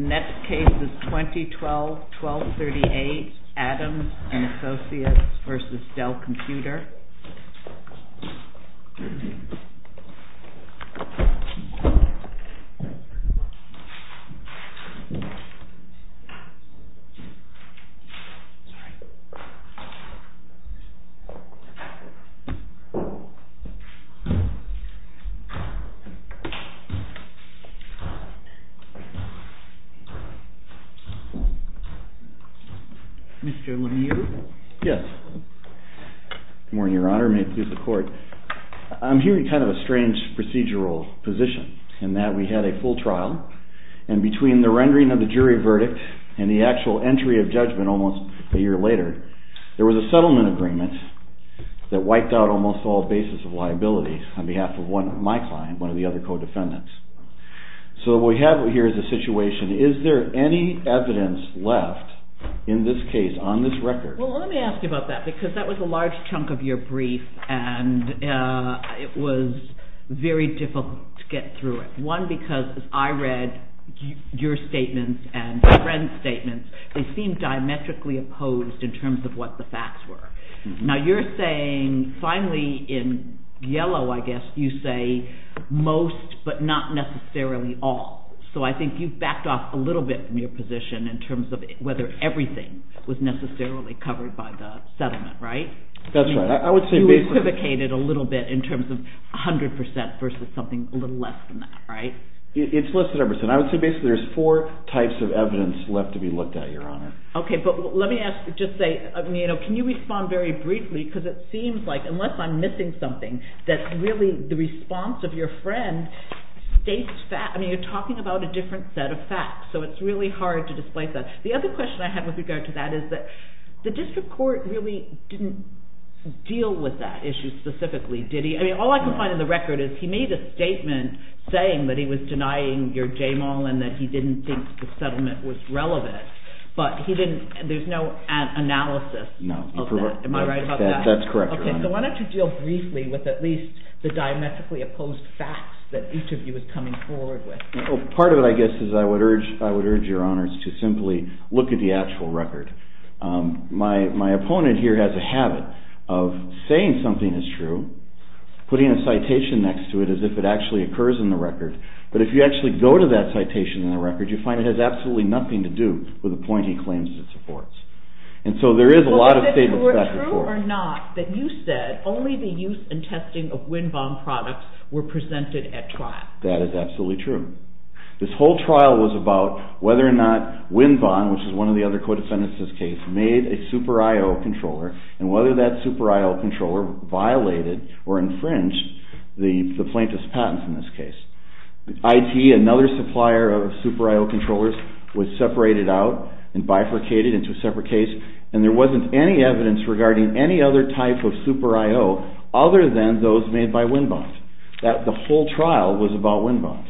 Next case is 2012-1238 ADAMS & ASSOCIATES v. DELL COMPUTER Mr. Lemieux? Yes. Good morning, Your Honor. May it please the Court. I'm here in kind of a strange procedural position in that we had a full trial, and between the rendering of the jury verdict and the actual entry of judgment almost a year later, there was a settlement agreement that wiped out almost all bases of liability on behalf of my client, one of the other co-defendants. So what we have here is a situation. Is there any evidence left in this case on this record? Well, let me ask you about that, because that was a large chunk of your brief, and it was very difficult to get through it. One, because as I read your statements and your friend's statements, they seemed diametrically opposed in terms of what the facts were. Now you're saying, finally, in yellow, I guess, you say most, but not necessarily all. So I think you've backed off a little bit from your position in terms of whether everything was necessarily covered by the settlement, right? That's right. You equivocated a little bit in terms of 100% versus something a little less than that, right? It's less than 100%. I would say basically there's four types of evidence left to be looked at, Your Honor. Okay, but let me ask, just say, can you respond very briefly, because it seems like, unless I'm missing something, that really the response of your friend states facts. So it's really hard to displace that. The other question I have with regard to that is that the district court really didn't deal with that issue specifically, did he? I mean, all I can find in the record is he made a statement saying that he was denying your JAMAL and that he didn't think the settlement was relevant. But there's no analysis of that. Am I right about that? That's correct, Your Honor. Okay, so why don't you deal briefly with at least the diametrically opposed facts that each of you is coming forward with. Well, part of it, I guess, is I would urge Your Honors to simply look at the actual record. My opponent here has a habit of saying something is true, putting a citation next to it as if it actually occurs in the record, but if you actually go to that citation in the record, you find it has absolutely nothing to do with the point he claims it supports. And so there is a lot of faith in that report. Well, is it true or not that you said only the use and testing of wind bomb products were presented at trial? That is absolutely true. This whole trial was about whether or not Wind Bond, which is one of the other co-defendants in this case, made a Super I.O. controller and whether that Super I.O. controller violated or infringed the plaintiff's patents in this case. IT, another supplier of Super I.O. controllers, was separated out and bifurcated into a separate case, and there wasn't any evidence regarding any other type of Super I.O. other than those made by Wind Bond. The whole trial was about Wind Bond.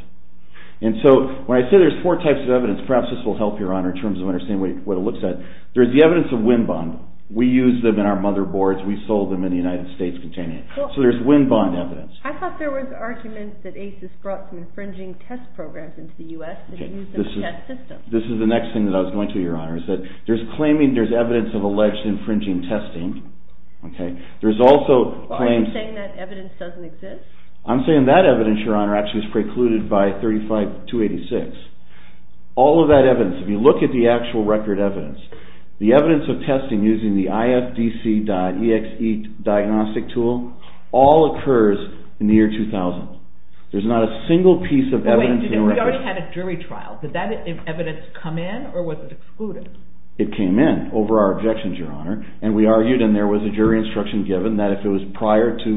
And so when I say there are four types of evidence, perhaps this will help, Your Honor, in terms of understanding what it looks like. There is the evidence of Wind Bond. We used them in our motherboards. We sold them in the United States containing it. So there is Wind Bond evidence. I thought there were arguments that ACES brought some infringing test programs into the U.S. and used them as a test system. This is the next thing that I was going to, Your Honor, is that there is evidence of alleged infringing testing. Are you saying that evidence doesn't exist? I'm saying that evidence, Your Honor, actually was precluded by 35286. All of that evidence, if you look at the actual record evidence, the evidence of testing using the IFDC.EXE diagnostic tool all occurs in the year 2000. There's not a single piece of evidence in the record. But wait, we already had a jury trial. Did that evidence come in or was it excluded? It came in over our objections, Your Honor. And we argued and there was a jury instruction given that if it was prior to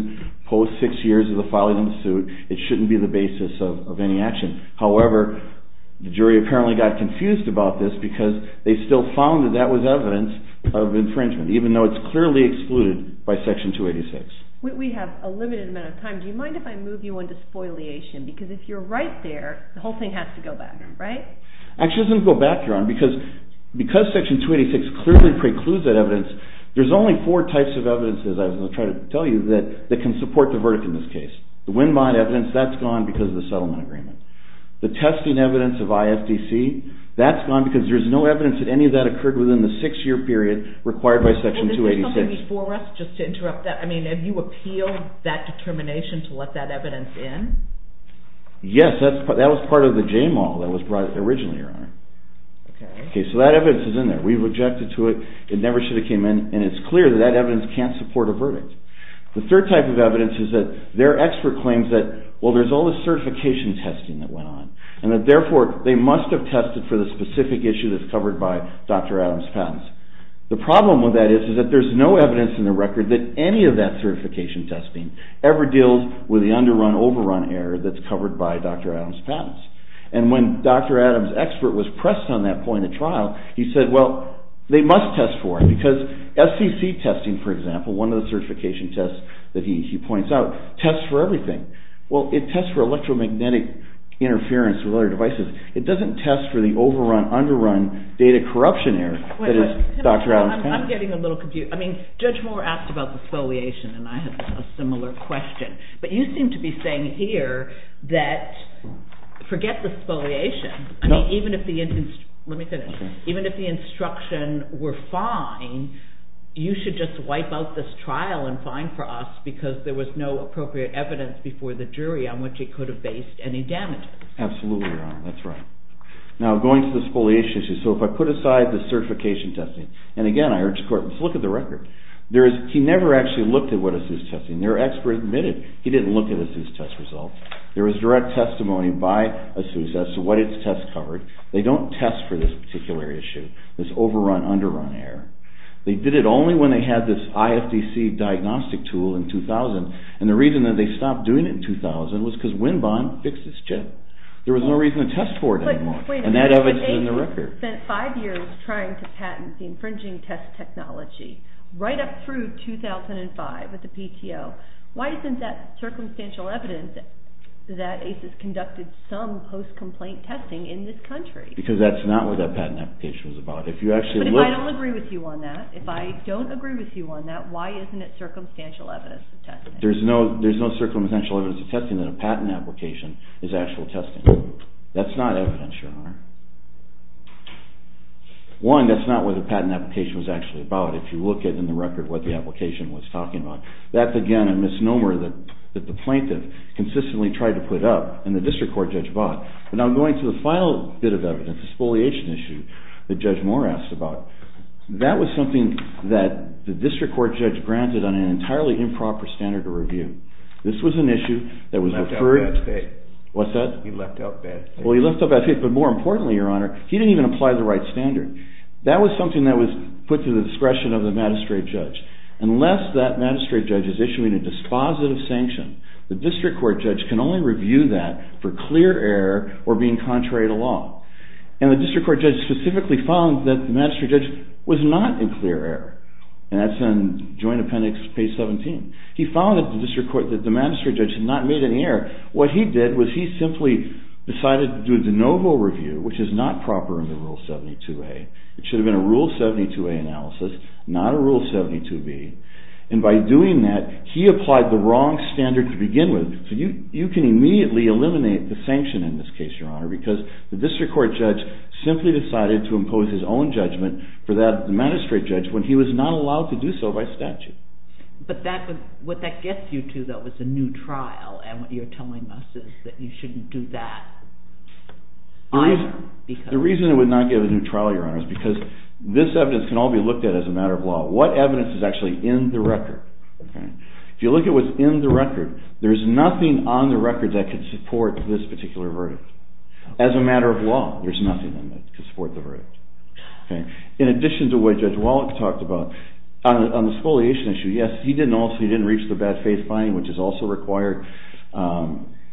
post six years of the filing of the suit, it shouldn't be the basis of any action. However, the jury apparently got confused about this because they still found that that was evidence of infringement, even though it's clearly excluded by Section 286. We have a limited amount of time. Do you mind if I move you on to spoliation? Because if you're right there, the whole thing has to go back, right? Actually, it doesn't go back, Your Honor, because Section 286 clearly precludes that evidence. There's only four types of evidence, as I was going to try to tell you, that can support the verdict in this case. The windmine evidence, that's gone because of the settlement agreement. The testing evidence of IFDC, that's gone because there's no evidence that any of that occurred within the six-year period required by Section 286. Is there something before us just to interrupt that? I mean, have you appealed that determination to let that evidence in? Yes, that was part of the JMAL that was brought in originally, Your Honor. Okay. Okay, so that evidence is in there. We've objected to it. It never should have came in, and it's clear that that evidence can't support a verdict. The third type of evidence is that their expert claims that, well, there's all this certification testing that went on, and that, therefore, they must have tested for the specific issue that's covered by Dr. Adams' patents. The problem with that is that there's no evidence in the record that any of that certification testing ever deals with the underrun, overrun error that's covered by Dr. Adams' patents. And when Dr. Adams' expert was pressed on that point at trial, he said, well, they must test for it because FCC testing, for example, one of the certification tests that he points out, tests for everything. Well, it tests for electromagnetic interference with other devices. It doesn't test for the overrun, underrun data corruption error that is Dr. Adams' patents. I'm getting a little confused. I mean, Judge Moore asked about the spoliation, and I had a similar question. But you seem to be saying here that forget the spoliation. I mean, even if the instruction were fine, you should just wipe out this trial and fine for us because there was no appropriate evidence before the jury on which it could have based any damages. Absolutely, Your Honor. That's right. Now, going to the spoliation issue, so if I put aside the certification testing, and again, I urge the court to look at the record. He never actually looked at what ASUS tested. Their expert admitted he didn't look at ASUS test results. There was direct testimony by ASUS as to what its tests covered. They don't test for this particular issue, this overrun, underrun error. They did it only when they had this IFDC diagnostic tool in 2000, and the reason that they stopped doing it in 2000 was because Winbon fixed its chip. There was no reason to test for it anymore, and that evidence is in the record. Wait a minute. ASUS spent five years trying to patent the infringing test technology right up through 2005 with the PTO. Why isn't that circumstantial evidence that ASUS conducted some post-complaint testing in this country? Because that's not what that patent application was about. But if I don't agree with you on that, if I don't agree with you on that, why isn't it circumstantial evidence of testing? There's no circumstantial evidence of testing that a patent application is actual testing. That's not evidence, Your Honor. One, that's not what the patent application was actually about. If you look at, in the record, what the application was talking about, that's, again, a misnomer that the plaintiff consistently tried to put up and the district court judge bought. But now going to the final bit of evidence, the spoliation issue that Judge Moore asked about, that was something that the district court judge granted on an entirely improper standard of review. This was an issue that was referred to. He left out bad faith. What's that? He left out bad faith. Well, he left out bad faith, but more importantly, Your Honor, he didn't even apply the right standard. That was something that was put to the discretion of the magistrate judge. Unless that magistrate judge is issuing a dispositive sanction, the district court judge can only review that for clear error or being contrary to law. And the district court judge specifically found that the magistrate judge was not in clear error. And that's in Joint Appendix, page 17. He found that the magistrate judge had not made any error. What he did was he simply decided to do a de novo review, which is not proper in the Rule 72A. It should have been a Rule 72A analysis, not a Rule 72B. And by doing that, he applied the wrong standard to begin with. So you can immediately eliminate the sanction in this case, Your Honor, because the district court judge simply decided to impose his own judgment for that magistrate judge when he was not allowed to do so by statute. But what that gets you to, though, is a new trial. And what you're telling us is that you shouldn't do that. The reason it would not get a new trial, Your Honor, is because this evidence can all be looked at as a matter of law. What evidence is actually in the record? If you look at what's in the record, there's nothing on the record that could support this particular verdict. As a matter of law, there's nothing that could support the verdict. In addition to what Judge Wallach talked about, on the exfoliation issue, yes, he didn't reach the bad faith finding, which is also required.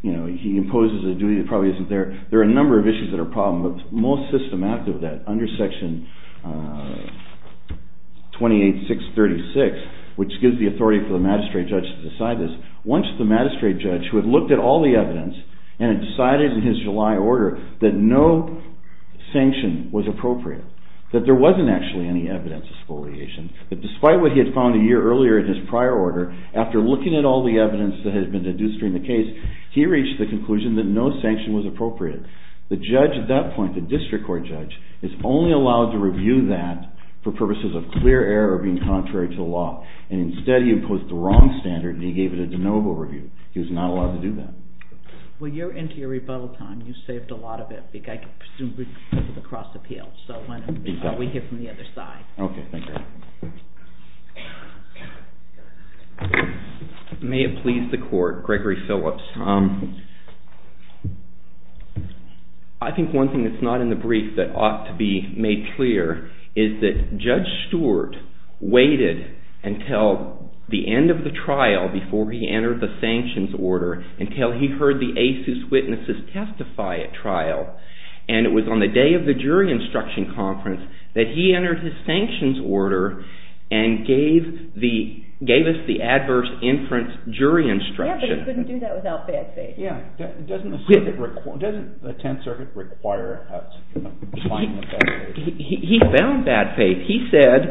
He imposes a duty that probably isn't there. There are a number of issues that are a problem, but most systematic of that, under Section 28636, which gives the authority for the magistrate judge to decide this, once the magistrate judge, who had looked at all the evidence and had decided in his July order that no sanction was appropriate, that there wasn't actually any evidence of exfoliation, that despite what he had found a year earlier in his prior order, after looking at all the evidence that had been deduced during the case, he reached the conclusion that no sanction was appropriate. The judge at that point, the district court judge, is only allowed to review that for purposes of clear error or being contrary to the law. Instead, he imposed the wrong standard, and he gave it a de novo review. He was not allowed to do that. Well, you're into your rebuttal time. You saved a lot of it. I presume we can go to the cross-appeal, so why don't we hear from the other side. Okay, thank you. May it please the court, Gregory Phillips. I think one thing that's not in the brief that ought to be made clear is that Judge Stewart waited until the end of the trial, before he entered the sanctions order, until he heard the ASUS witnesses testify at trial. And it was on the day of the jury instruction conference that he entered his sanctions order and gave us the adverse inference jury instruction. Yeah, but he couldn't do that without bad faith. Yeah, doesn't the Tenth Circuit require us to find the bad faith? He found bad faith. He said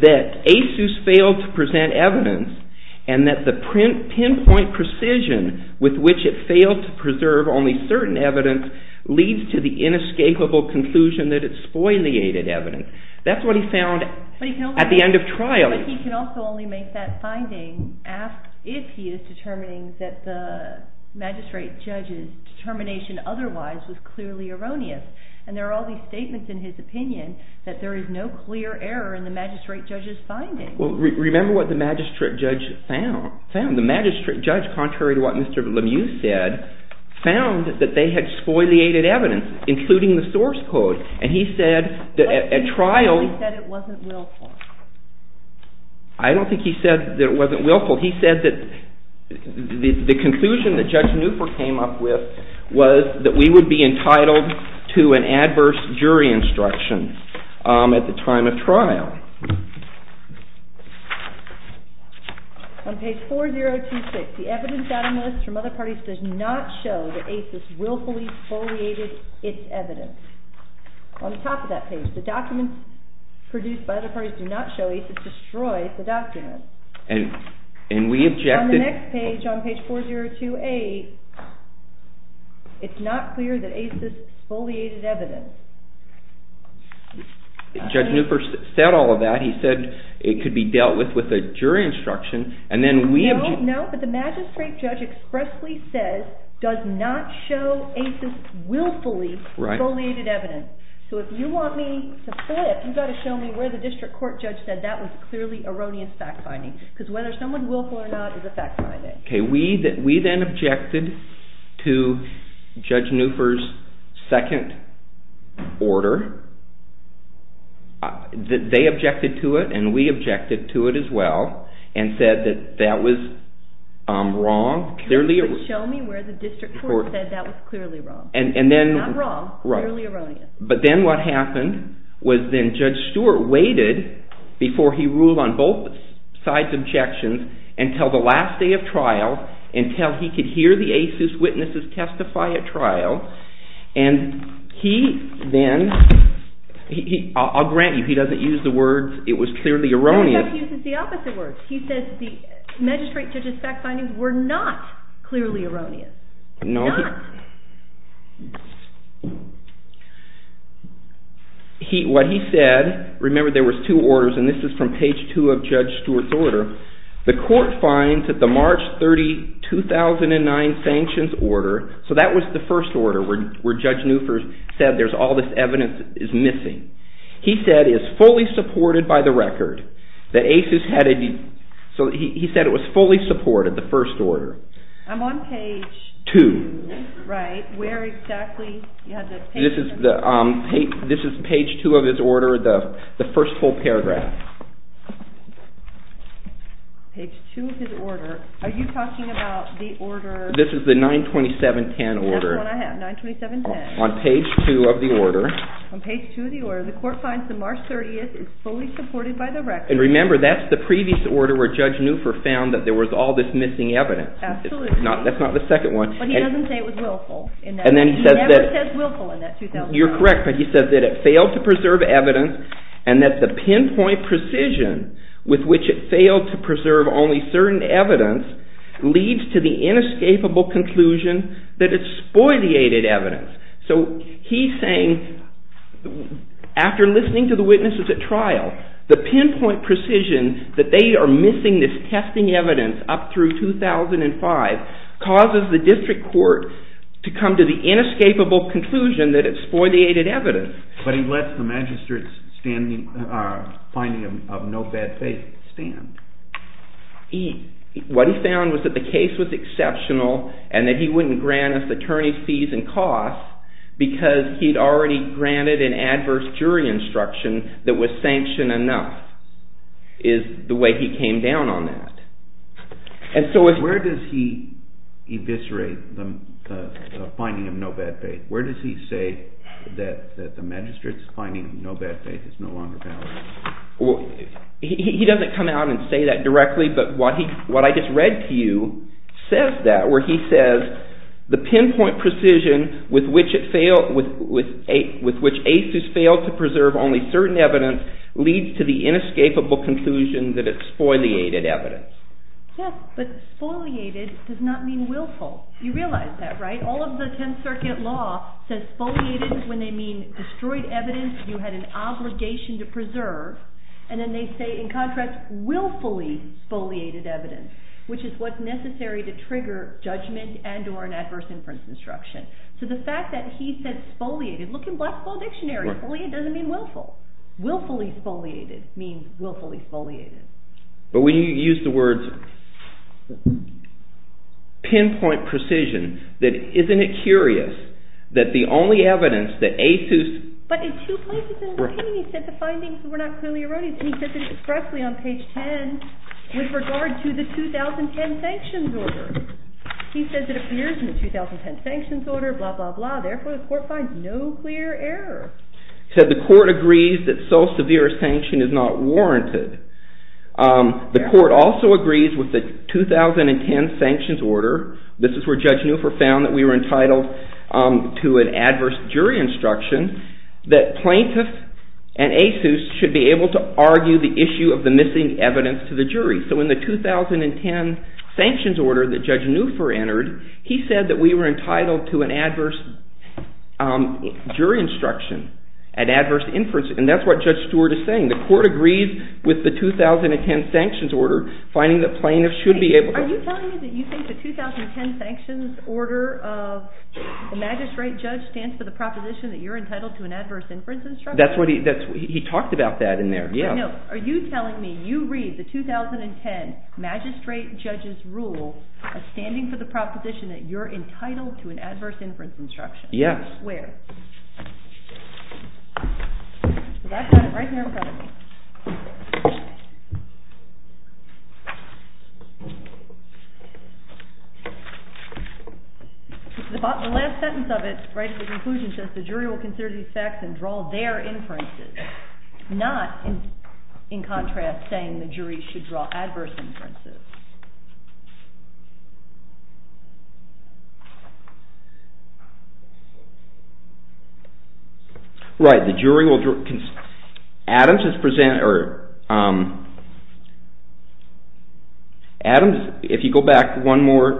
that ASUS failed to present evidence and that the pinpoint precision with which it failed to preserve only certain evidence leads to the inescapable conclusion that it spoileated evidence. That's what he found at the end of trial. But he can also only make that finding if he is determining that the magistrate judge's determination otherwise was clearly erroneous. And there are all these statements in his opinion that there is no clear error in the magistrate judge's findings. Well, remember what the magistrate judge found. He found that they had spoileated evidence, including the source code. And he said that at trial... Why didn't he say that it wasn't willful? I don't think he said that it wasn't willful. He said that the conclusion that Judge Newport came up with was that we would be entitled to an adverse jury instruction at the time of trial. On page 4026, the evidence item list from other parties does not show that ASUS willfully spoileated its evidence. On the top of that page, the documents produced by other parties do not show ASUS destroyed the documents. And we objected... On the next page, on page 4028, it's not clear that ASUS spoileated evidence. Judge Newport said all of that. He said it could be dealt with with a jury instruction. No, but the magistrate judge expressly says does not show ASUS willfully spoileated evidence. So if you want me to flip, you've got to show me where the district court judge said that was clearly erroneous fact-finding. Because whether someone's willful or not is a fact-finding. We then objected to Judge Newport's second order. They objected to it and we objected to it as well and said that that was wrong. Show me where the district court said that was clearly wrong. Not wrong, clearly erroneous. But then what happened was then Judge Stewart waited before he ruled on both sides' objections until the last day of trial, until he could hear the ASUS witnesses testify at trial. And he then... I'll grant you he doesn't use the words it was clearly erroneous. No, he doesn't use the opposite words. He says the magistrate judge's fact-findings were not clearly erroneous. Not. What he said, remember there was two orders and this is from page two of Judge Stewart's order. The court finds that the March 30, 2009 sanctions order, so that was the first order where Judge Newport said there's all this evidence is missing. He said it is fully supported by the record that ASUS had a... So he said it was fully supported, the first order. I'm on page... Two. Right, where exactly? This is page two of his order, the first full paragraph. Page two of his order. Are you talking about the order... This is the 92710 order. That's the one I have, 92710. On page two of the order. On page two of the order. The court finds the March 30 is fully supported by the record. And remember that's the previous order where Judge Newport found that there was all this missing evidence. Absolutely. That's not the second one. But he doesn't say it was willful. And then he says that... He never says willful in that 2009. You're correct, but he says that it failed to preserve evidence and that the pinpoint precision with which it failed to preserve only certain evidence leads to the inescapable conclusion that it's spoileated evidence. So he's saying after listening to the witnesses at trial, the pinpoint precision that they are missing this testing evidence up through 2005 causes the district court to come to the inescapable conclusion that it's spoileated evidence. But he lets the magistrate's finding of no bad faith stand. What he found was that the case was exceptional and that he wouldn't grant us attorney's fees and costs because he'd already granted an adverse jury instruction that was sanctioned enough is the way he came down on that. Where does he eviscerate the finding of no bad faith? Where does he say that the magistrate's finding of no bad faith is no longer valid? He doesn't come out and say that directly, but what I just read to you says that where he says the pinpoint precision with which ASUS failed to preserve only certain evidence leads to the inescapable conclusion that it's spoileated evidence. Yes, but spoileated does not mean willful. You realize that, right? All of the 10th Circuit law says spoileated when they mean destroyed evidence you had an obligation to preserve, and then they say in contrast willfully spoileated evidence, which is what's necessary to trigger judgment and or an adverse inference instruction. So the fact that he said spoileated, look in Black Spoil Dictionary, spoileated doesn't mean willful. Willfully spoileated means willfully spoileated. But when you use the words pinpoint precision, that isn't it curious that the only evidence that ASUS But in two places in the opinion he said the findings were not clearly erroneous, and he says it expressly on page 10 with regard to the 2010 sanctions order. He says it appears in the 2010 sanctions order, blah, blah, blah, therefore the court finds no clear error. He said the court agrees that so severe a sanction is not warranted. The court also agrees with the 2010 sanctions order. This is where Judge Newford found that we were entitled to an adverse jury instruction that plaintiffs and ASUS should be able to argue the issue of the missing evidence to the jury. So in the 2010 sanctions order that Judge Newford entered, he said that we were entitled to an adverse jury instruction, an adverse inference, and that's what Judge Stewart is saying. The court agrees with the 2010 sanctions order, finding that plaintiffs should be able to… Are you telling me that you think the 2010 sanctions order of the magistrate judge stands for the proposition that you're entitled to an adverse inference instruction? That's what he – he talked about that in there, yes. No, are you telling me you read the 2010 magistrate judge's rule as standing for the proposition that you're entitled to an adverse inference instruction? Yes. Where? Right here in front of me. The last sentence of it, right at the conclusion, says the jury will consider these facts and draw their inferences, not, in contrast, saying the jury should draw adverse inferences. Right, the jury will – Adams is – Adams, if you go back one more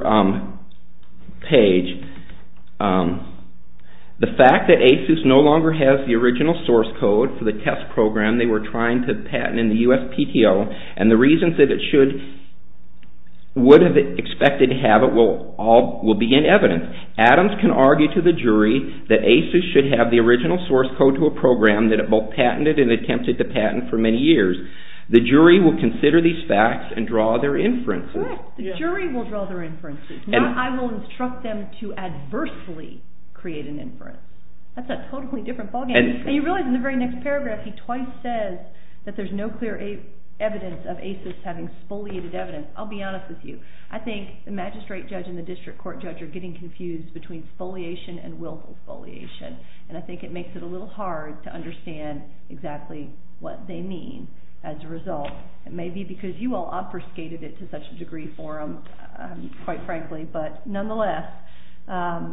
page, the fact that ASUS no longer has the original source code for the test program they were trying to patent in the USPTO, and the reasons that it should – would have expected to have it will be in evidence. Adams can argue to the jury that ASUS should have the original source code to a program that it both patented and attempted to patent for many years. The jury will consider these facts and draw their inferences. Correct, the jury will draw their inferences, not, I will instruct them to adversely create an inference. That's a totally different ballgame. And you realize in the very next paragraph he twice says that there's no clear evidence of ASUS having spoliated evidence. I'll be honest with you. I think the magistrate judge and the district court judge are getting confused between spoliation and willful spoliation, and I think it makes it a little hard to understand exactly what they mean. As a result, it may be because you all obfuscated it to such a degree for them, quite frankly, but nonetheless, I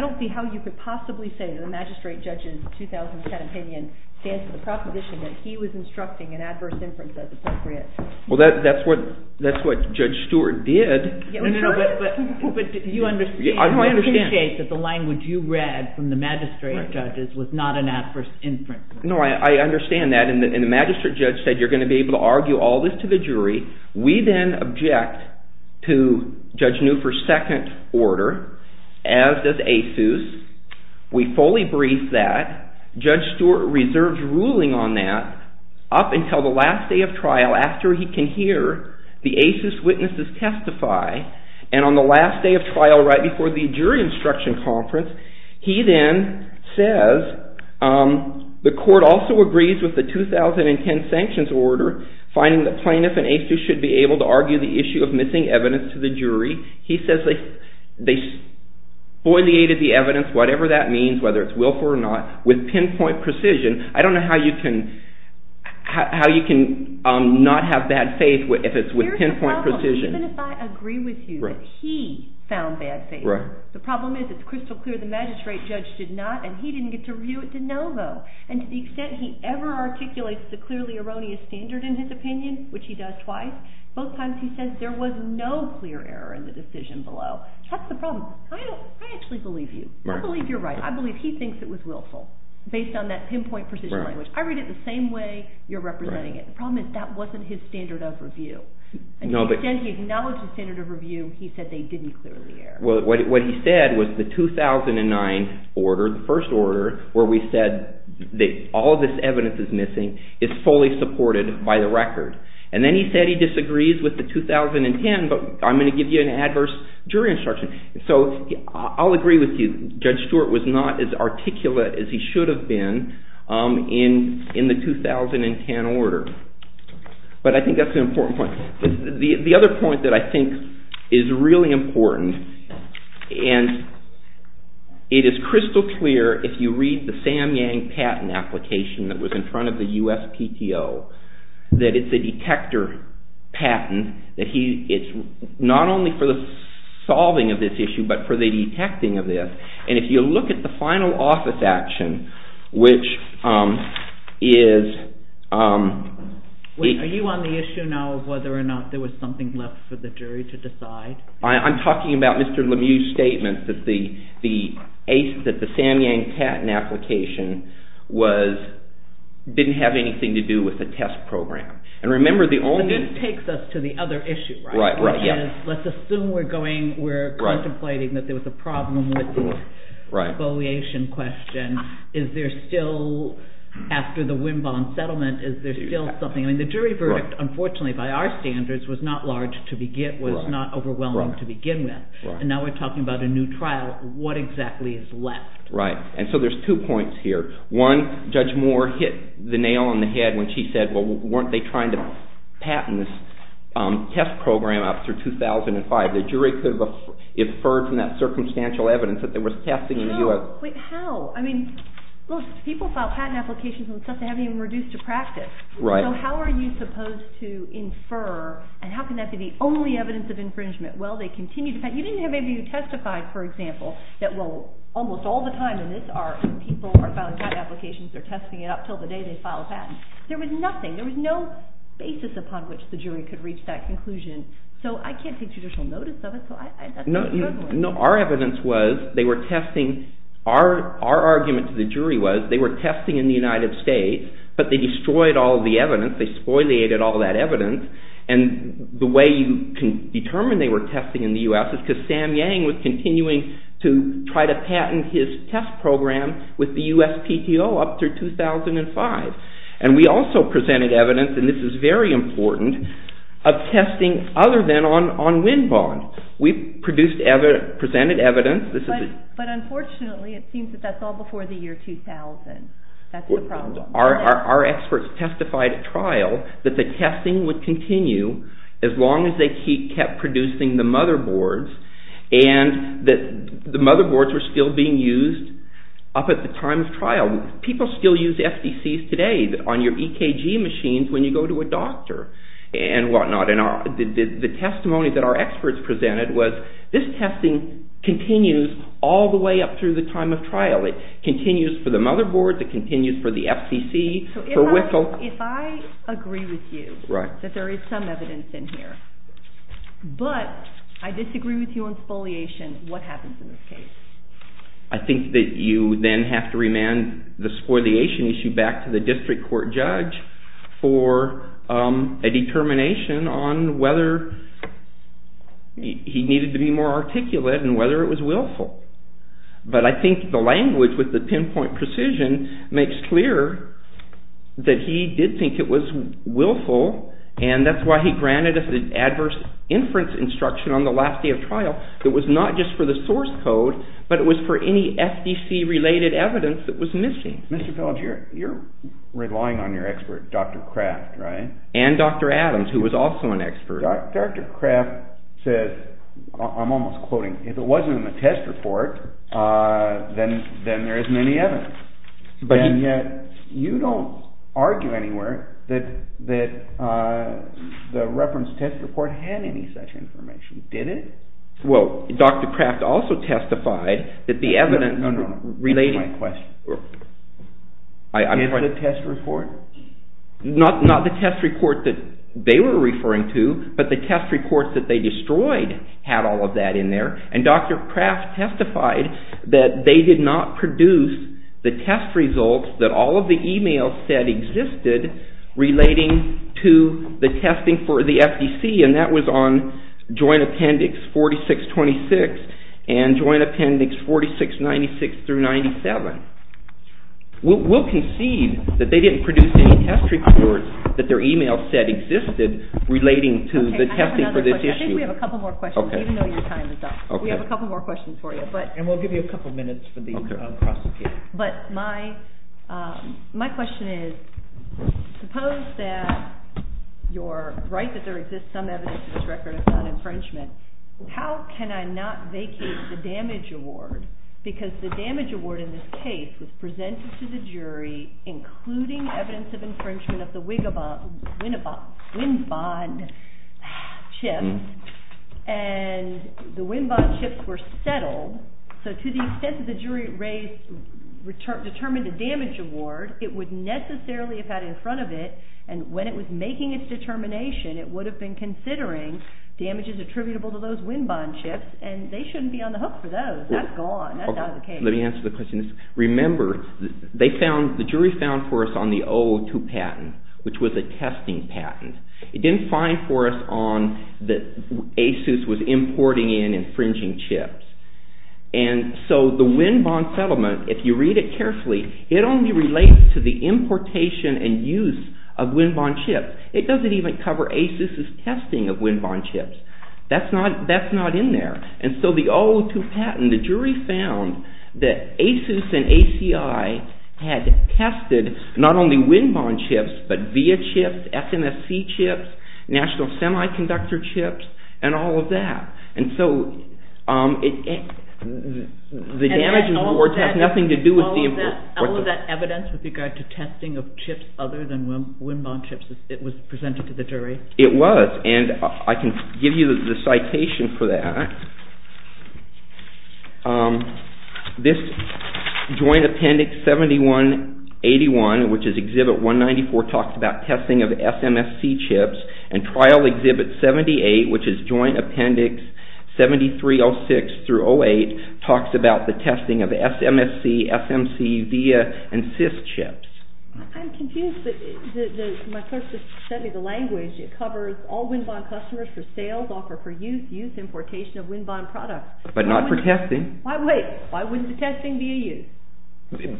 don't see how you could possibly say that the magistrate judge's 2010 opinion stands to the proposition that he was instructing an adverse inference as appropriate. Well, that's what Judge Stewart did. No, no, no, but you understand. You appreciate that the language you read from the magistrate judge was not an adverse inference. No, I understand that, and the magistrate judge said you're going to be able to argue all this to the jury. We then object to Judge Newford's second order, as does ASUS. We fully brief that. Judge Stewart reserves ruling on that up until the last day of trial after he can hear the ASUS witnesses testify, and on the last day of trial right before the jury instruction conference, he then says the court also agrees with the 2010 sanctions order, finding the plaintiff and ASUS should be able to argue the issue of missing evidence to the jury. He says they spoileated the evidence, whatever that means, whether it's willful or not, with pinpoint precision. I don't know how you can not have bad faith if it's with pinpoint precision. Here's the problem. Even if I agree with you that he found bad faith, the problem is it's crystal clear the magistrate judge did not, and he didn't get to review it de novo, and to the extent he ever articulates the clearly erroneous standard in his opinion, which he does twice, both times he says there was no clear error in the decision below. That's the problem. I actually believe you. I believe you're right. I believe he thinks it was willful based on that pinpoint precision language. I read it the same way you're representing it. The problem is that wasn't his standard of review. To the extent he acknowledged the standard of review, he said they didn't clearly err. What he said was the 2009 order, the first order, where we said all of this evidence is missing, is fully supported by the record. And then he said he disagrees with the 2010, but I'm going to give you an adverse jury instruction. So I'll agree with you. Judge Stewart was not as articulate as he should have been in the 2010 order. But I think that's an important point. The other point that I think is really important, and it is crystal clear if you read the Sam Yang patent application that was in front of the USPTO, that it's a detector patent. It's not only for the solving of this issue, but for the detecting of this. And if you look at the final office action, which is... Whether or not there was something left for the jury to decide. I'm talking about Mr. Lemieux's statement that the Sam Yang patent application didn't have anything to do with the test program. And remember the only... But this takes us to the other issue, right? Right, right, yeah. Which is, let's assume we're contemplating that there was a problem with the evaluation question. Is there still, after the Winbon settlement, is there still something? The jury verdict, unfortunately by our standards, was not large to begin with, was not overwhelming to begin with. And now we're talking about a new trial. What exactly is left? Right, and so there's two points here. One, Judge Moore hit the nail on the head when she said, well, weren't they trying to patent this test program up through 2005? The jury could have inferred from that circumstantial evidence that there was testing in the US. No, but how? I mean, look, people file patent applications and stuff they haven't even reduced to practice. So how are you supposed to infer, and how can that be the only evidence of infringement? Well, they continue to patent. You didn't have anybody who testified, for example, that, well, almost all the time in this art, people are filing patent applications, they're testing it up until the day they file a patent. There was nothing. There was no basis upon which the jury could reach that conclusion. So I can't take judicial notice of it. No, our evidence was they were testing, our argument to the jury was they were testing in the United States, but they destroyed all the evidence, they spoileated all that evidence, and the way you can determine they were testing in the US is because Sam Yang was continuing to try to patent his test program with the USPTO up through 2005. And we also presented evidence, and this is very important, of testing other than on wind bond. We presented evidence. But unfortunately, it seems that that's all before the year 2000. That's the problem. Our experts testified at trial that the testing would continue as long as they kept producing the motherboards, and that the motherboards were still being used up at the time of trial. People still use FDCs today on your EKG machines when you go to a doctor and whatnot. And the testimony that our experts presented was this testing continues all the way up through the time of trial. It continues for the motherboards, it continues for the FDC, for WICL. If I agree with you that there is some evidence in here, but I disagree with you on spoliation, what happens in this case? I think that you then have to remand the spoliation issue back to the district court judge for a determination on whether he needed to be more articulate and whether it was willful. But I think the language with the pinpoint precision makes clear that he did think it was willful, and that's why he granted us an adverse inference instruction on the last day of trial. It was not just for the source code, but it was for any FDC-related evidence that was missing. Mr. Phillips, you're relying on your expert, Dr. Kraft, right? And Dr. Adams, who was also an expert. Dr. Kraft says, I'm almost quoting, if it wasn't in the test report, then there isn't any evidence. And yet you don't argue anywhere that the reference test report had any such information, did it? Well, Dr. Kraft also testified that the evidence related to my question. Is it the test report? Not the test report that they were referring to, but the test report that they destroyed had all of that in there. And Dr. Kraft testified that they did not produce the test results that all of the e-mails said existed relating to the testing for the FDC, and that was on Joint Appendix 4626 and Joint Appendix 4696-97. We'll concede that they didn't produce any test reports that their e-mail said existed relating to the testing for this issue. I think we have a couple more questions, even though your time is up. We have a couple more questions for you. And we'll give you a couple minutes for these to un-process here. But my question is, suppose that you're right that there exists some evidence in this record of non-infringement. How can I not vacate the damage award? Because the damage award in this case was presented to the jury, including evidence of infringement of the Winn-Bon chips, and the Winn-Bon chips were settled. So to the extent that the jury determined the damage award, it would necessarily have had in front of it, and when it was making its determination, it would have been considering damages attributable to those Winn-Bon chips, and they shouldn't be on the hook for those. That's gone. That's out of the case. Let me answer the question. Remember, the jury found for us on the 002 patent, which was a testing patent. It didn't find for us on that ASUS was importing in infringing chips. And so the Winn-Bon settlement, if you read it carefully, it only relates to the importation and use of Winn-Bon chips. It doesn't even cover ASUS's testing of Winn-Bon chips. That's not in there. And so the 002 patent, the jury found that ASUS and ACI had tested not only Winn-Bon chips, but VIA chips, FMSC chips, National Semiconductor chips, and all of that. And so the damage in the report has nothing to do with the import. All of that evidence with regard to testing of chips other than Winn-Bon chips, it was presented to the jury? It was, and I can give you the citation for that. This Joint Appendix 7181, which is Exhibit 194, talks about testing of FMSC chips, and Trial Exhibit 78, which is Joint Appendix 7306 through 08, talks about the testing of SMSC, FMC, VIA, and CIS chips. I'm confused, but my clerk just sent me the language. It covers all Winn-Bon customers for sales, offer for use, use, importation of Winn-Bon products. But not for testing. Wait, why wouldn't the testing be a use?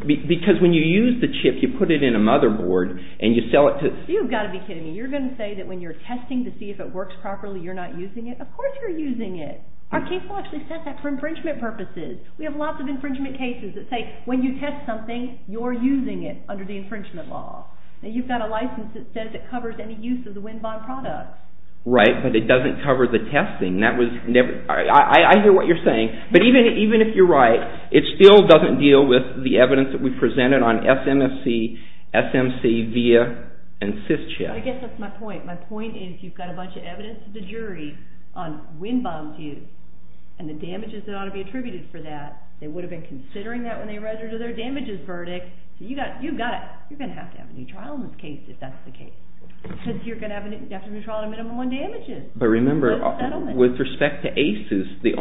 Because when you use the chip, you put it in a motherboard, and you sell it to... You've got to be kidding me. You're going to say that when you're testing to see if it works properly, you're not using it? Of course you're using it. Our case law actually says that for infringement purposes. We have lots of infringement cases that say when you test something, you're using it under the infringement law. And you've got a license that says it covers any use of the Winn-Bon products. Right, but it doesn't cover the testing. I hear what you're saying, but even if you're right, it still doesn't deal with the evidence that we presented on SMFC, SMC, VIA, and CIS chips. I guess that's my point. My point is you've got a bunch of evidence to the jury on Winn-Bon use, and the damages that ought to be attributed for that. They would have been considering that when they read their damages verdict. You've got it. You're going to have to have a new trial in this case if that's the case. Because you're going to have to have a new trial on minimum one damages. But remember, with respect to ACES, the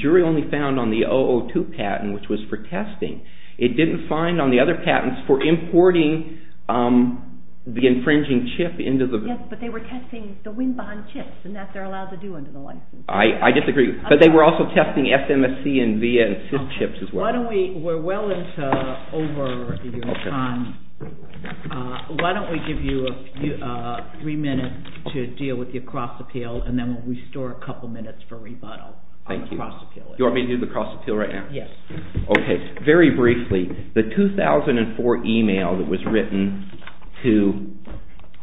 jury only found on the 002 patent, which was for testing. It didn't find on the other patents for importing the infringing chip into the… Yes, but they were testing the Winn-Bon chips, and that they're allowed to do under the license. I disagree. But they were also testing SMFC and VIA and CIS chips as well. We're well into over your time. Why don't we give you three minutes to deal with your cross-appeal, and then we'll restore a couple minutes for rebuttal on the cross-appeal issue. You want me to do the cross-appeal right now? Yes. Okay. Very briefly, the 2004 email that was written to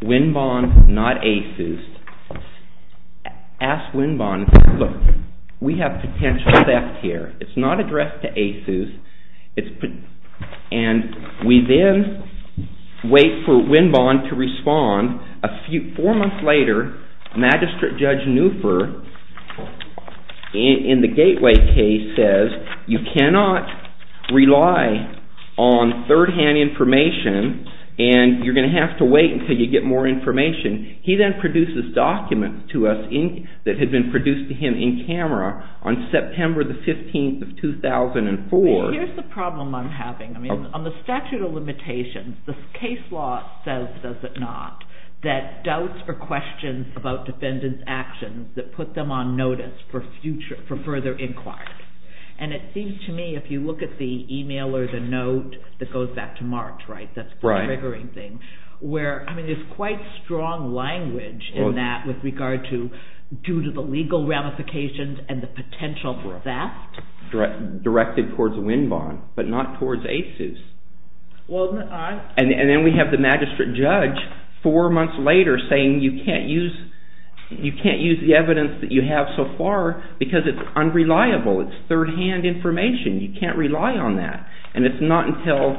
Winn-Bon, not ACES, asked Winn-Bon, look, we have potential theft here. It's not addressed to ACES, and we then wait for Winn-Bon to respond. Four months later, Magistrate Judge Neufer, in the Gateway case, says, you cannot rely on third-hand information, and you're going to have to wait until you get more information. He then produces documents to us that had been produced to him in camera on September 15, 2004. Here's the problem I'm having. On the statute of limitations, the case law says, does it not, that doubts are questions about defendants' actions that put them on notice for further inquiry. And it seems to me, if you look at the email or the note that goes back to March, where, I mean, there's quite strong language in that with regard to, due to the legal ramifications and the potential theft. Directed towards Winn-Bon, but not towards ACES. And then we have the magistrate judge, four months later, saying, you can't use the evidence that you have so far because it's unreliable. It's third-hand information. You can't rely on that. And it's not until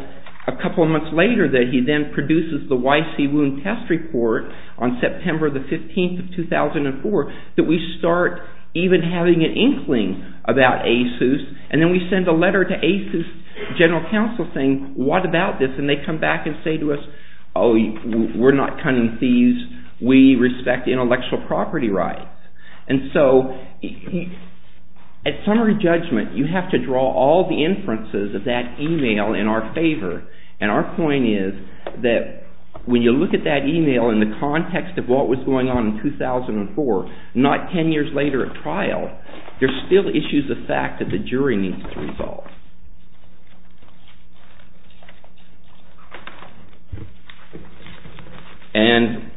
a couple of months later that he then produces the YC Wound Test Report on September 15, 2004, that we start even having an inkling about ACES. And then we send a letter to ACES general counsel saying, what about this? And they come back and say to us, oh, we're not cunning thieves. We respect intellectual property rights. And so, at summary judgment, you have to draw all the inferences of that email in our favor. And our point is that when you look at that email in the context of what was going on in 2004, not ten years later at trial, there's still issues of fact that the jury needs to resolve. And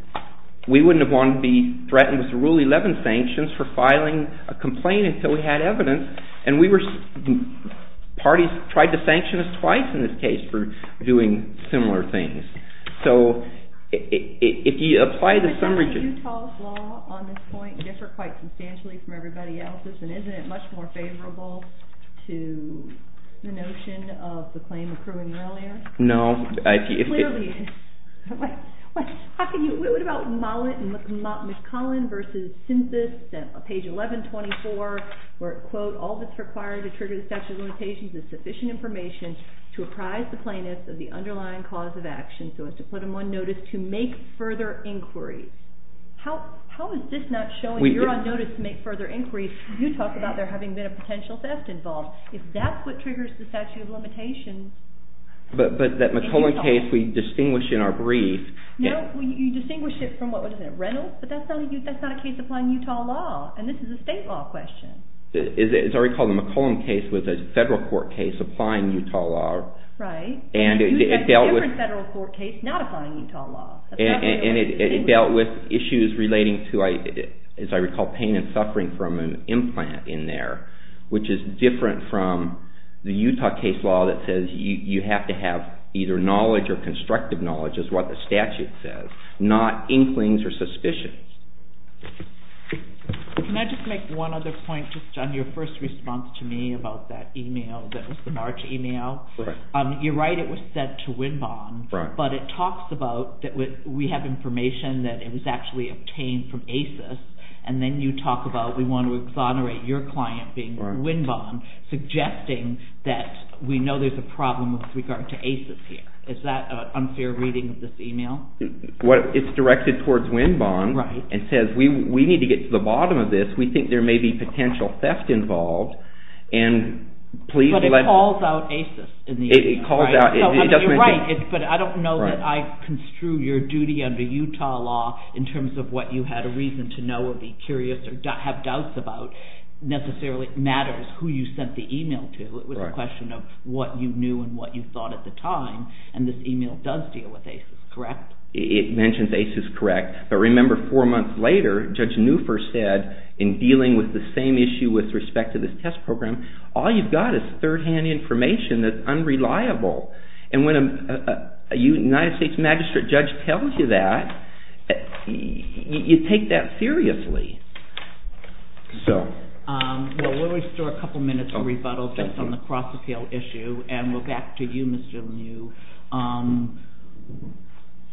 we wouldn't have wanted to be threatened with the Rule 11 sanctions for filing a complaint until we had evidence. And parties tried to sanction us twice in this case for doing similar things. So if you apply the summary judgment... The notion of the claim accruing earlier? No. Clearly. How can you? What about Mollett and McCollin versus census, page 1124, where it, quote, all that's required to trigger the statute of limitations is sufficient information to apprise the plaintiffs of the underlying cause of action so as to put them on notice to make further inquiries. How is this not showing you're on notice to make further inquiries? You talk about there having been a potential theft involved. If that's what triggers the statute of limitations... But that McCollin case we distinguish in our brief... No, you distinguish it from what was it, Reynolds? But that's not a case applying Utah law. And this is a state law question. As I recall, the McCollin case was a federal court case applying Utah law. Right. And it dealt with... A different federal court case not applying Utah law. And it dealt with issues relating to, as I recall, pain and suffering from an implant in there, which is different from the Utah case law that says you have to have either knowledge or constructive knowledge, is what the statute says, not inklings or suspicions. Can I just make one other point just on your first response to me about that e-mail that was the March e-mail? Right. You're right. It was sent to Winbon. Right. And then you talk about we want to exonerate your client, Winbon, suggesting that we know there's a problem with regard to ACES here. Is that an unfair reading of this e-mail? It's directed towards Winbon and says we need to get to the bottom of this. We think there may be potential theft involved. But it calls out ACES in the e-mail, right? It calls out... You're right, but I don't know that I construe your duty under Utah law in terms of what you had a reason to know or be curious or have doubts about necessarily matters who you sent the e-mail to. It was a question of what you knew and what you thought at the time, and this e-mail does deal with ACES, correct? It mentions ACES, correct. But remember four months later, Judge Newford said in dealing with the same issue with respect to this test program, all you've got is third-hand information that's unreliable. And when a United States magistrate judge tells you that, you take that seriously. Well, we'll restore a couple minutes of rebuttal just on the cross-appeal issue, and we'll back to you, Mr. New.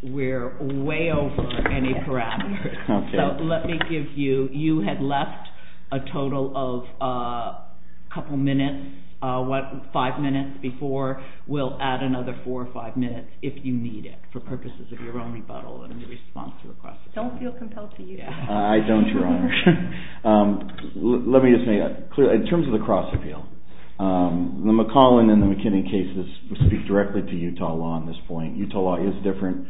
We're way over any parameters. So let me give you, you had left a total of a couple minutes, what, five minutes before. We'll add another four or five minutes if you need it for purposes of your own rebuttal and response to the cross-appeal. Don't feel compelled to use that. I don't, Your Honor. Let me just make that clear. In terms of the cross-appeal, the McClellan and the McKinney cases speak directly to Utah law at this point. Utah law is different.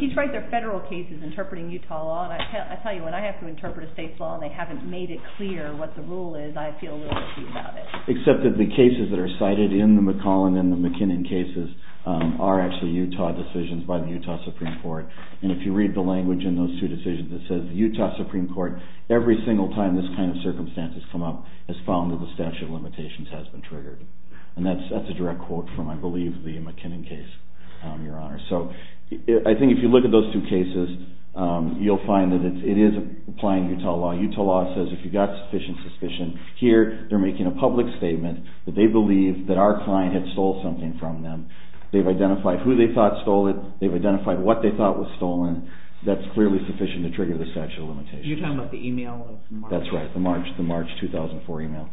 He's right. They're federal cases interpreting Utah law. And I tell you, when I have to interpret a state's law and they haven't made it clear what the rule is, I feel a little itchy about it. Except that the cases that are cited in the McClellan and the McKinney cases are actually Utah decisions by the Utah Supreme Court. And if you read the language in those two decisions, it says the Utah Supreme Court, every single time this kind of circumstance has come up, has found that the statute of limitations has been triggered. And that's a direct quote from, I believe, the McKinney case, Your Honor. So I think if you look at those two cases, you'll find that it is applying Utah law. Utah law says if you've got sufficient suspicion, here they're making a public statement that they believe that our client had stole something from them. They've identified who they thought stole it. They've identified what they thought was stolen. That's clearly sufficient to trigger the statute of limitations. You're talking about the email of March? That's right, the March 2004 email.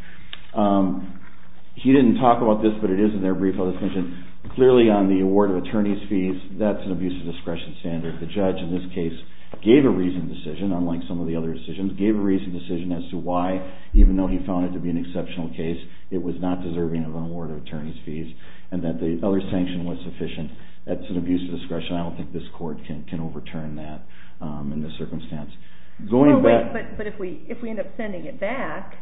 He didn't talk about this, but it is in their brief. Clearly on the award of attorney's fees, that's an abuse of discretion standard. The judge in this case gave a reasoned decision, unlike some of the other decisions, gave a reasoned decision as to why, even though he found it to be an exceptional case, it was not deserving of an award of attorney's fees and that the other sanction was sufficient. That's an abuse of discretion. I don't think this court can overturn that in this circumstance. If we end up sending it back,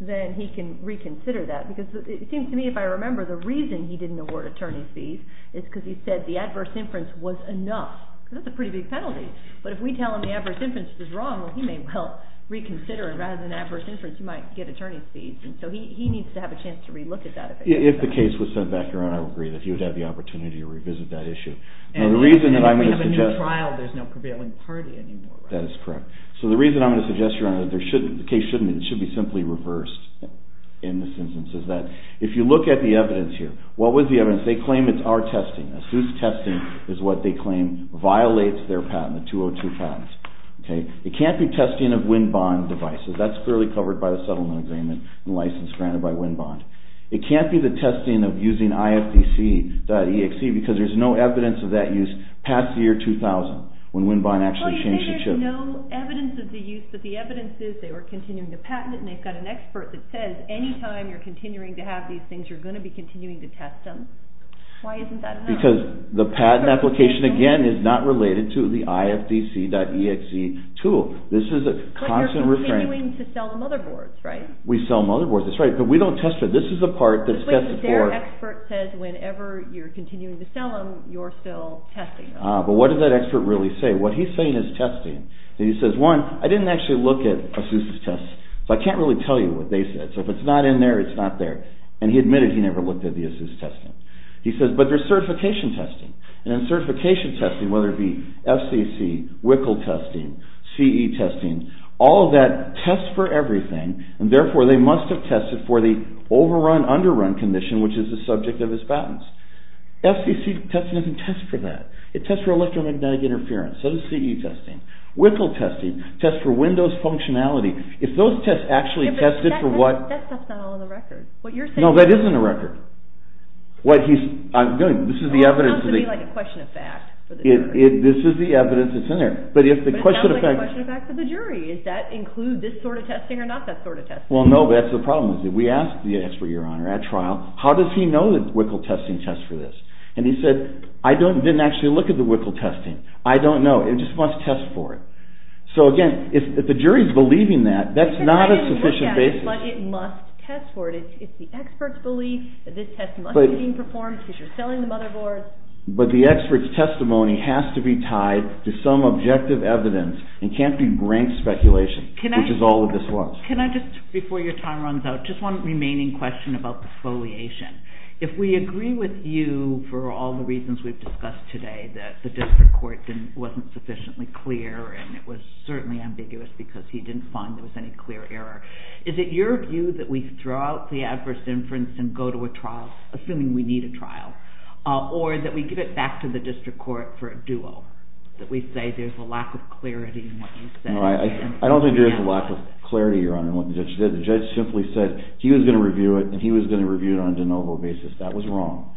then he can reconsider that. It seems to me, if I remember, the reason he didn't award attorney's fees is because he said the adverse inference was enough. That's a pretty big penalty, but if we tell him the adverse inference was wrong, he may well reconsider it. Rather than adverse inference, he might get attorney's fees. He needs to have a chance to re-look at that. If the case was sent back around, I would agree that he would have the opportunity to revisit that issue. The reason that I'm going to suggest... If we have a new trial, there's no prevailing party anymore. That is correct. The reason I'm going to suggest, Your Honor, that the case shouldn't be... It should be simply reversed in this instance. If you look at the evidence here, what was the evidence? They claim it's our testing. ASUS testing is what they claim violates their patent, the 202 patents. It can't be testing of WinBond devices. That's clearly covered by the settlement agreement and license granted by WinBond. It can't be the testing of using IFDC.exe because there's no evidence of that use past the year 2000, when WinBond actually changed the chip. Well, you say there's no evidence of the use, but the evidence is they were continuing to patent it, and they've got an expert that says any time you're continuing to have these things, you're going to be continuing to test them. Why isn't that enough? Because the patent application, again, is not related to the IFDC.exe tool. This is a constant refrain. But you're continuing to sell the motherboards, right? We sell motherboards. That's right. But we don't test them. This is the part that's tested for... But their expert says whenever you're continuing to sell them, you're still testing them. But what does that expert really say? What he's saying is testing. He says, one, I didn't actually look at ASUS's tests, so I can't really tell you what they said. So if it's not in there, it's not there. And he admitted he never looked at the ASUS testing. He says, but there's certification testing. And certification testing, whether it be FCC, WICL testing, CE testing, all of that tests for everything, and therefore they must have tested for the overrun, underrun condition, which is the subject of his patents. FCC testing doesn't test for that. It tests for electromagnetic interference. So does CE testing. WICL testing tests for Windows functionality. If those tests actually tested for what... Yeah, but that stuff's not all in the record. No, that isn't a record. What he's... This is the evidence... Well, it sounds to me like a question of fact for the jury. This is the evidence that's in there. But it sounds like a question of fact for the jury. Does that include this sort of testing or not that sort of testing? Well, no, that's the problem. We asked the expert, Your Honor, at trial, how does he know that WICL testing tests for this? And he said, I didn't actually look at the WICL testing. I don't know. It just must test for it. So, again, if the jury's believing that, that's not a sufficient basis. But it must test for it. It's the expert's belief that this test must be being performed because you're selling the motherboard. But the expert's testimony has to be tied to some objective evidence. It can't be blank speculation, which is all that this was. Can I just, before your time runs out, just one remaining question about the foliation. If we agree with you for all the reasons we've discussed today, that the district court wasn't sufficiently clear and it was certainly ambiguous because he didn't find there was any clear error, is it your view that we throw out the adverse inference and go to a trial, assuming we need a trial, or that we give it back to the district court for a duo, that we say there's a lack of clarity in what you said? No, I don't think there's a lack of clarity, Your Honor, in what the judge did. The judge simply said he was going to review it, and he was going to review it on a de novo basis. That was wrong.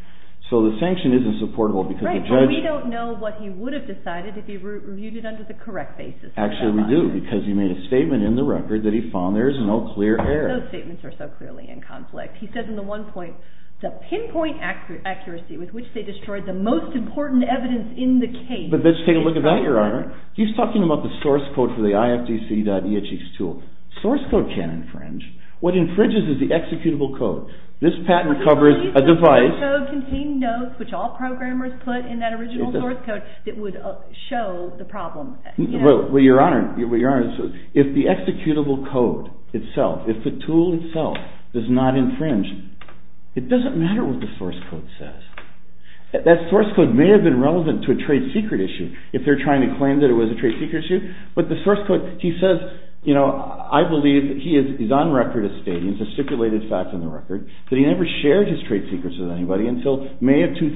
So the sanction isn't supportable because the judge... Right, but we don't know what he would have decided if he reviewed it under the correct basis. Actually, we do, because he made a statement in the record that he found there is no clear error. Those statements are so clearly in conflict. He said in the one point, the pinpoint accuracy with which they destroyed the most important evidence in the case... But let's take a look at that, Your Honor. He's talking about the source code for the ifdc.exe tool. Source code can't infringe. What infringes is the executable code. This patent covers a device... The source code contained notes, which all programmers put in that original source code, that would show the problem. Well, Your Honor, if the executable code itself, if the tool itself does not infringe, it doesn't matter what the source code says. That source code may have been relevant to a trade secret issue, if they're trying to claim that it was a trade secret issue. But the source code, he says, you know, I believe he is on record as stating, it's a stipulated fact on the record, that he never shared his trade secrets with anybody until May of 2000.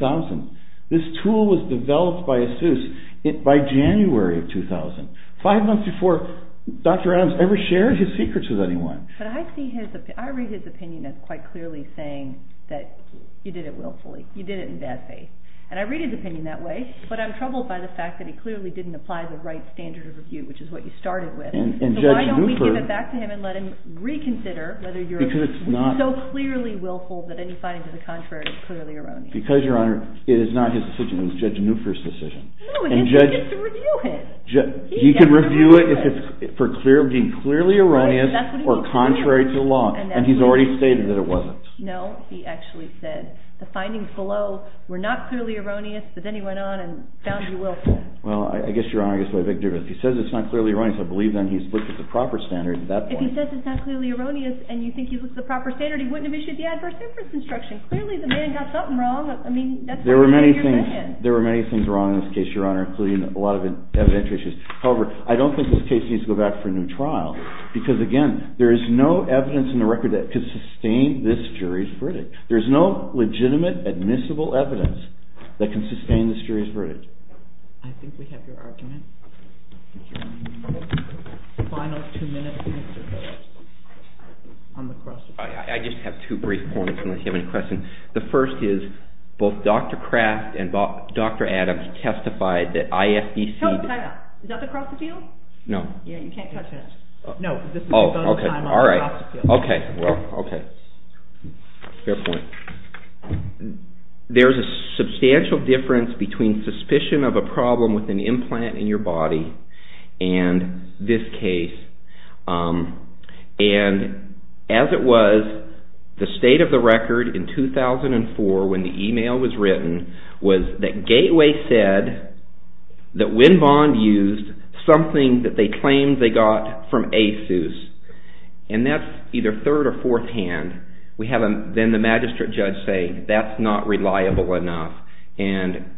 This tool was developed by ASUS by January of 2000, five months before Dr. Adams ever shared his secrets with anyone. But I read his opinion as quite clearly saying that you did it willfully, you did it in bad faith. And I read his opinion that way, but I'm troubled by the fact that he clearly didn't apply the right standard of review, which is what you started with. So why don't we give it back to him and let him reconsider whether you're so clearly willful that any finding to the contrary is clearly erroneous. Because, Your Honor, it is not his decision, it was Judge Neuffer's decision. No, he gets to review it. He can review it for being clearly erroneous or contrary to law, and he's already stated that it wasn't. No, he actually said the findings below were not clearly erroneous, but then he went on and found you willful. Well, I guess, Your Honor, I guess we have a big difference. If he says it's not clearly erroneous, I believe, then, he's looked at the proper standard at that point. If he says it's not clearly erroneous and you think he looks at the proper standard, he wouldn't have issued the adverse inference instruction. Clearly, the man got something wrong. I mean, that's why I'm asking your question. There were many things wrong in this case, Your Honor, including a lot of evidentiary issues. However, I don't think this case needs to go back for a new trial. Because, again, there is no evidence in the record that could sustain this jury's verdict. There is no legitimate admissible evidence that can sustain this jury's verdict. I think we have your argument. Final two-minute answer on the cross-examination. I just have two brief points, unless you have any questions. The first is, both Dr. Kraft and Dr. Adams testified that ISDC... Is that the cross-examination? No. Yeah, you can't touch it. No, because this is a time on the cross-examination. Okay, well, okay. Fair point. There's a substantial difference between suspicion of a problem with an implant in your body and this case. And, as it was, the state of the record in 2004, when the email was written, was that Gateway said that Winn-Bond used something that they claimed they got from ASUS. And that's either third or fourth hand. Then the magistrate judge saying, that's not reliable enough. And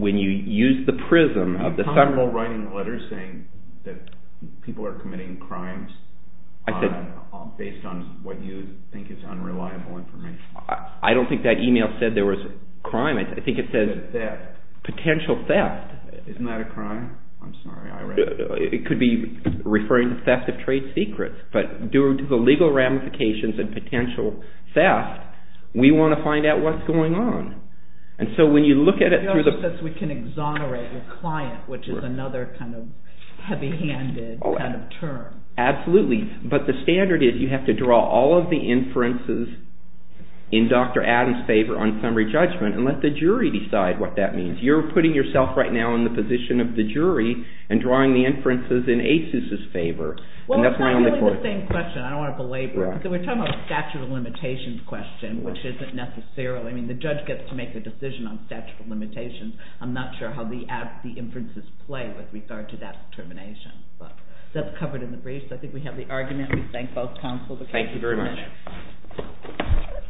when you use the prism of the... Is it reliable writing letters saying that people are committing crimes based on what you think is unreliable information? I don't think that email said there was a crime. I think it says... Potential theft. Potential theft. Isn't that a crime? I'm sorry. It could be referring to theft of trade secrets. But due to the legal ramifications and potential theft, we want to find out what's going on. It also says we can exonerate your client, which is another kind of heavy-handed term. Absolutely. But the standard is you have to draw all of the inferences in Dr. Adams' favor on summary judgment and let the jury decide what that means. You're putting yourself right now in the position of the jury and drawing the inferences in ASUS' favor. Well, it's not really the same question. I don't want to belabor it. We're talking about a statute of limitations question, which isn't necessarily... I mean, the judge gets to make the decision on statute of limitations. I'm not sure how the inferences play with regard to that determination. But that's covered in the briefs. I think we have the argument. We thank both counsel. Thank you very much.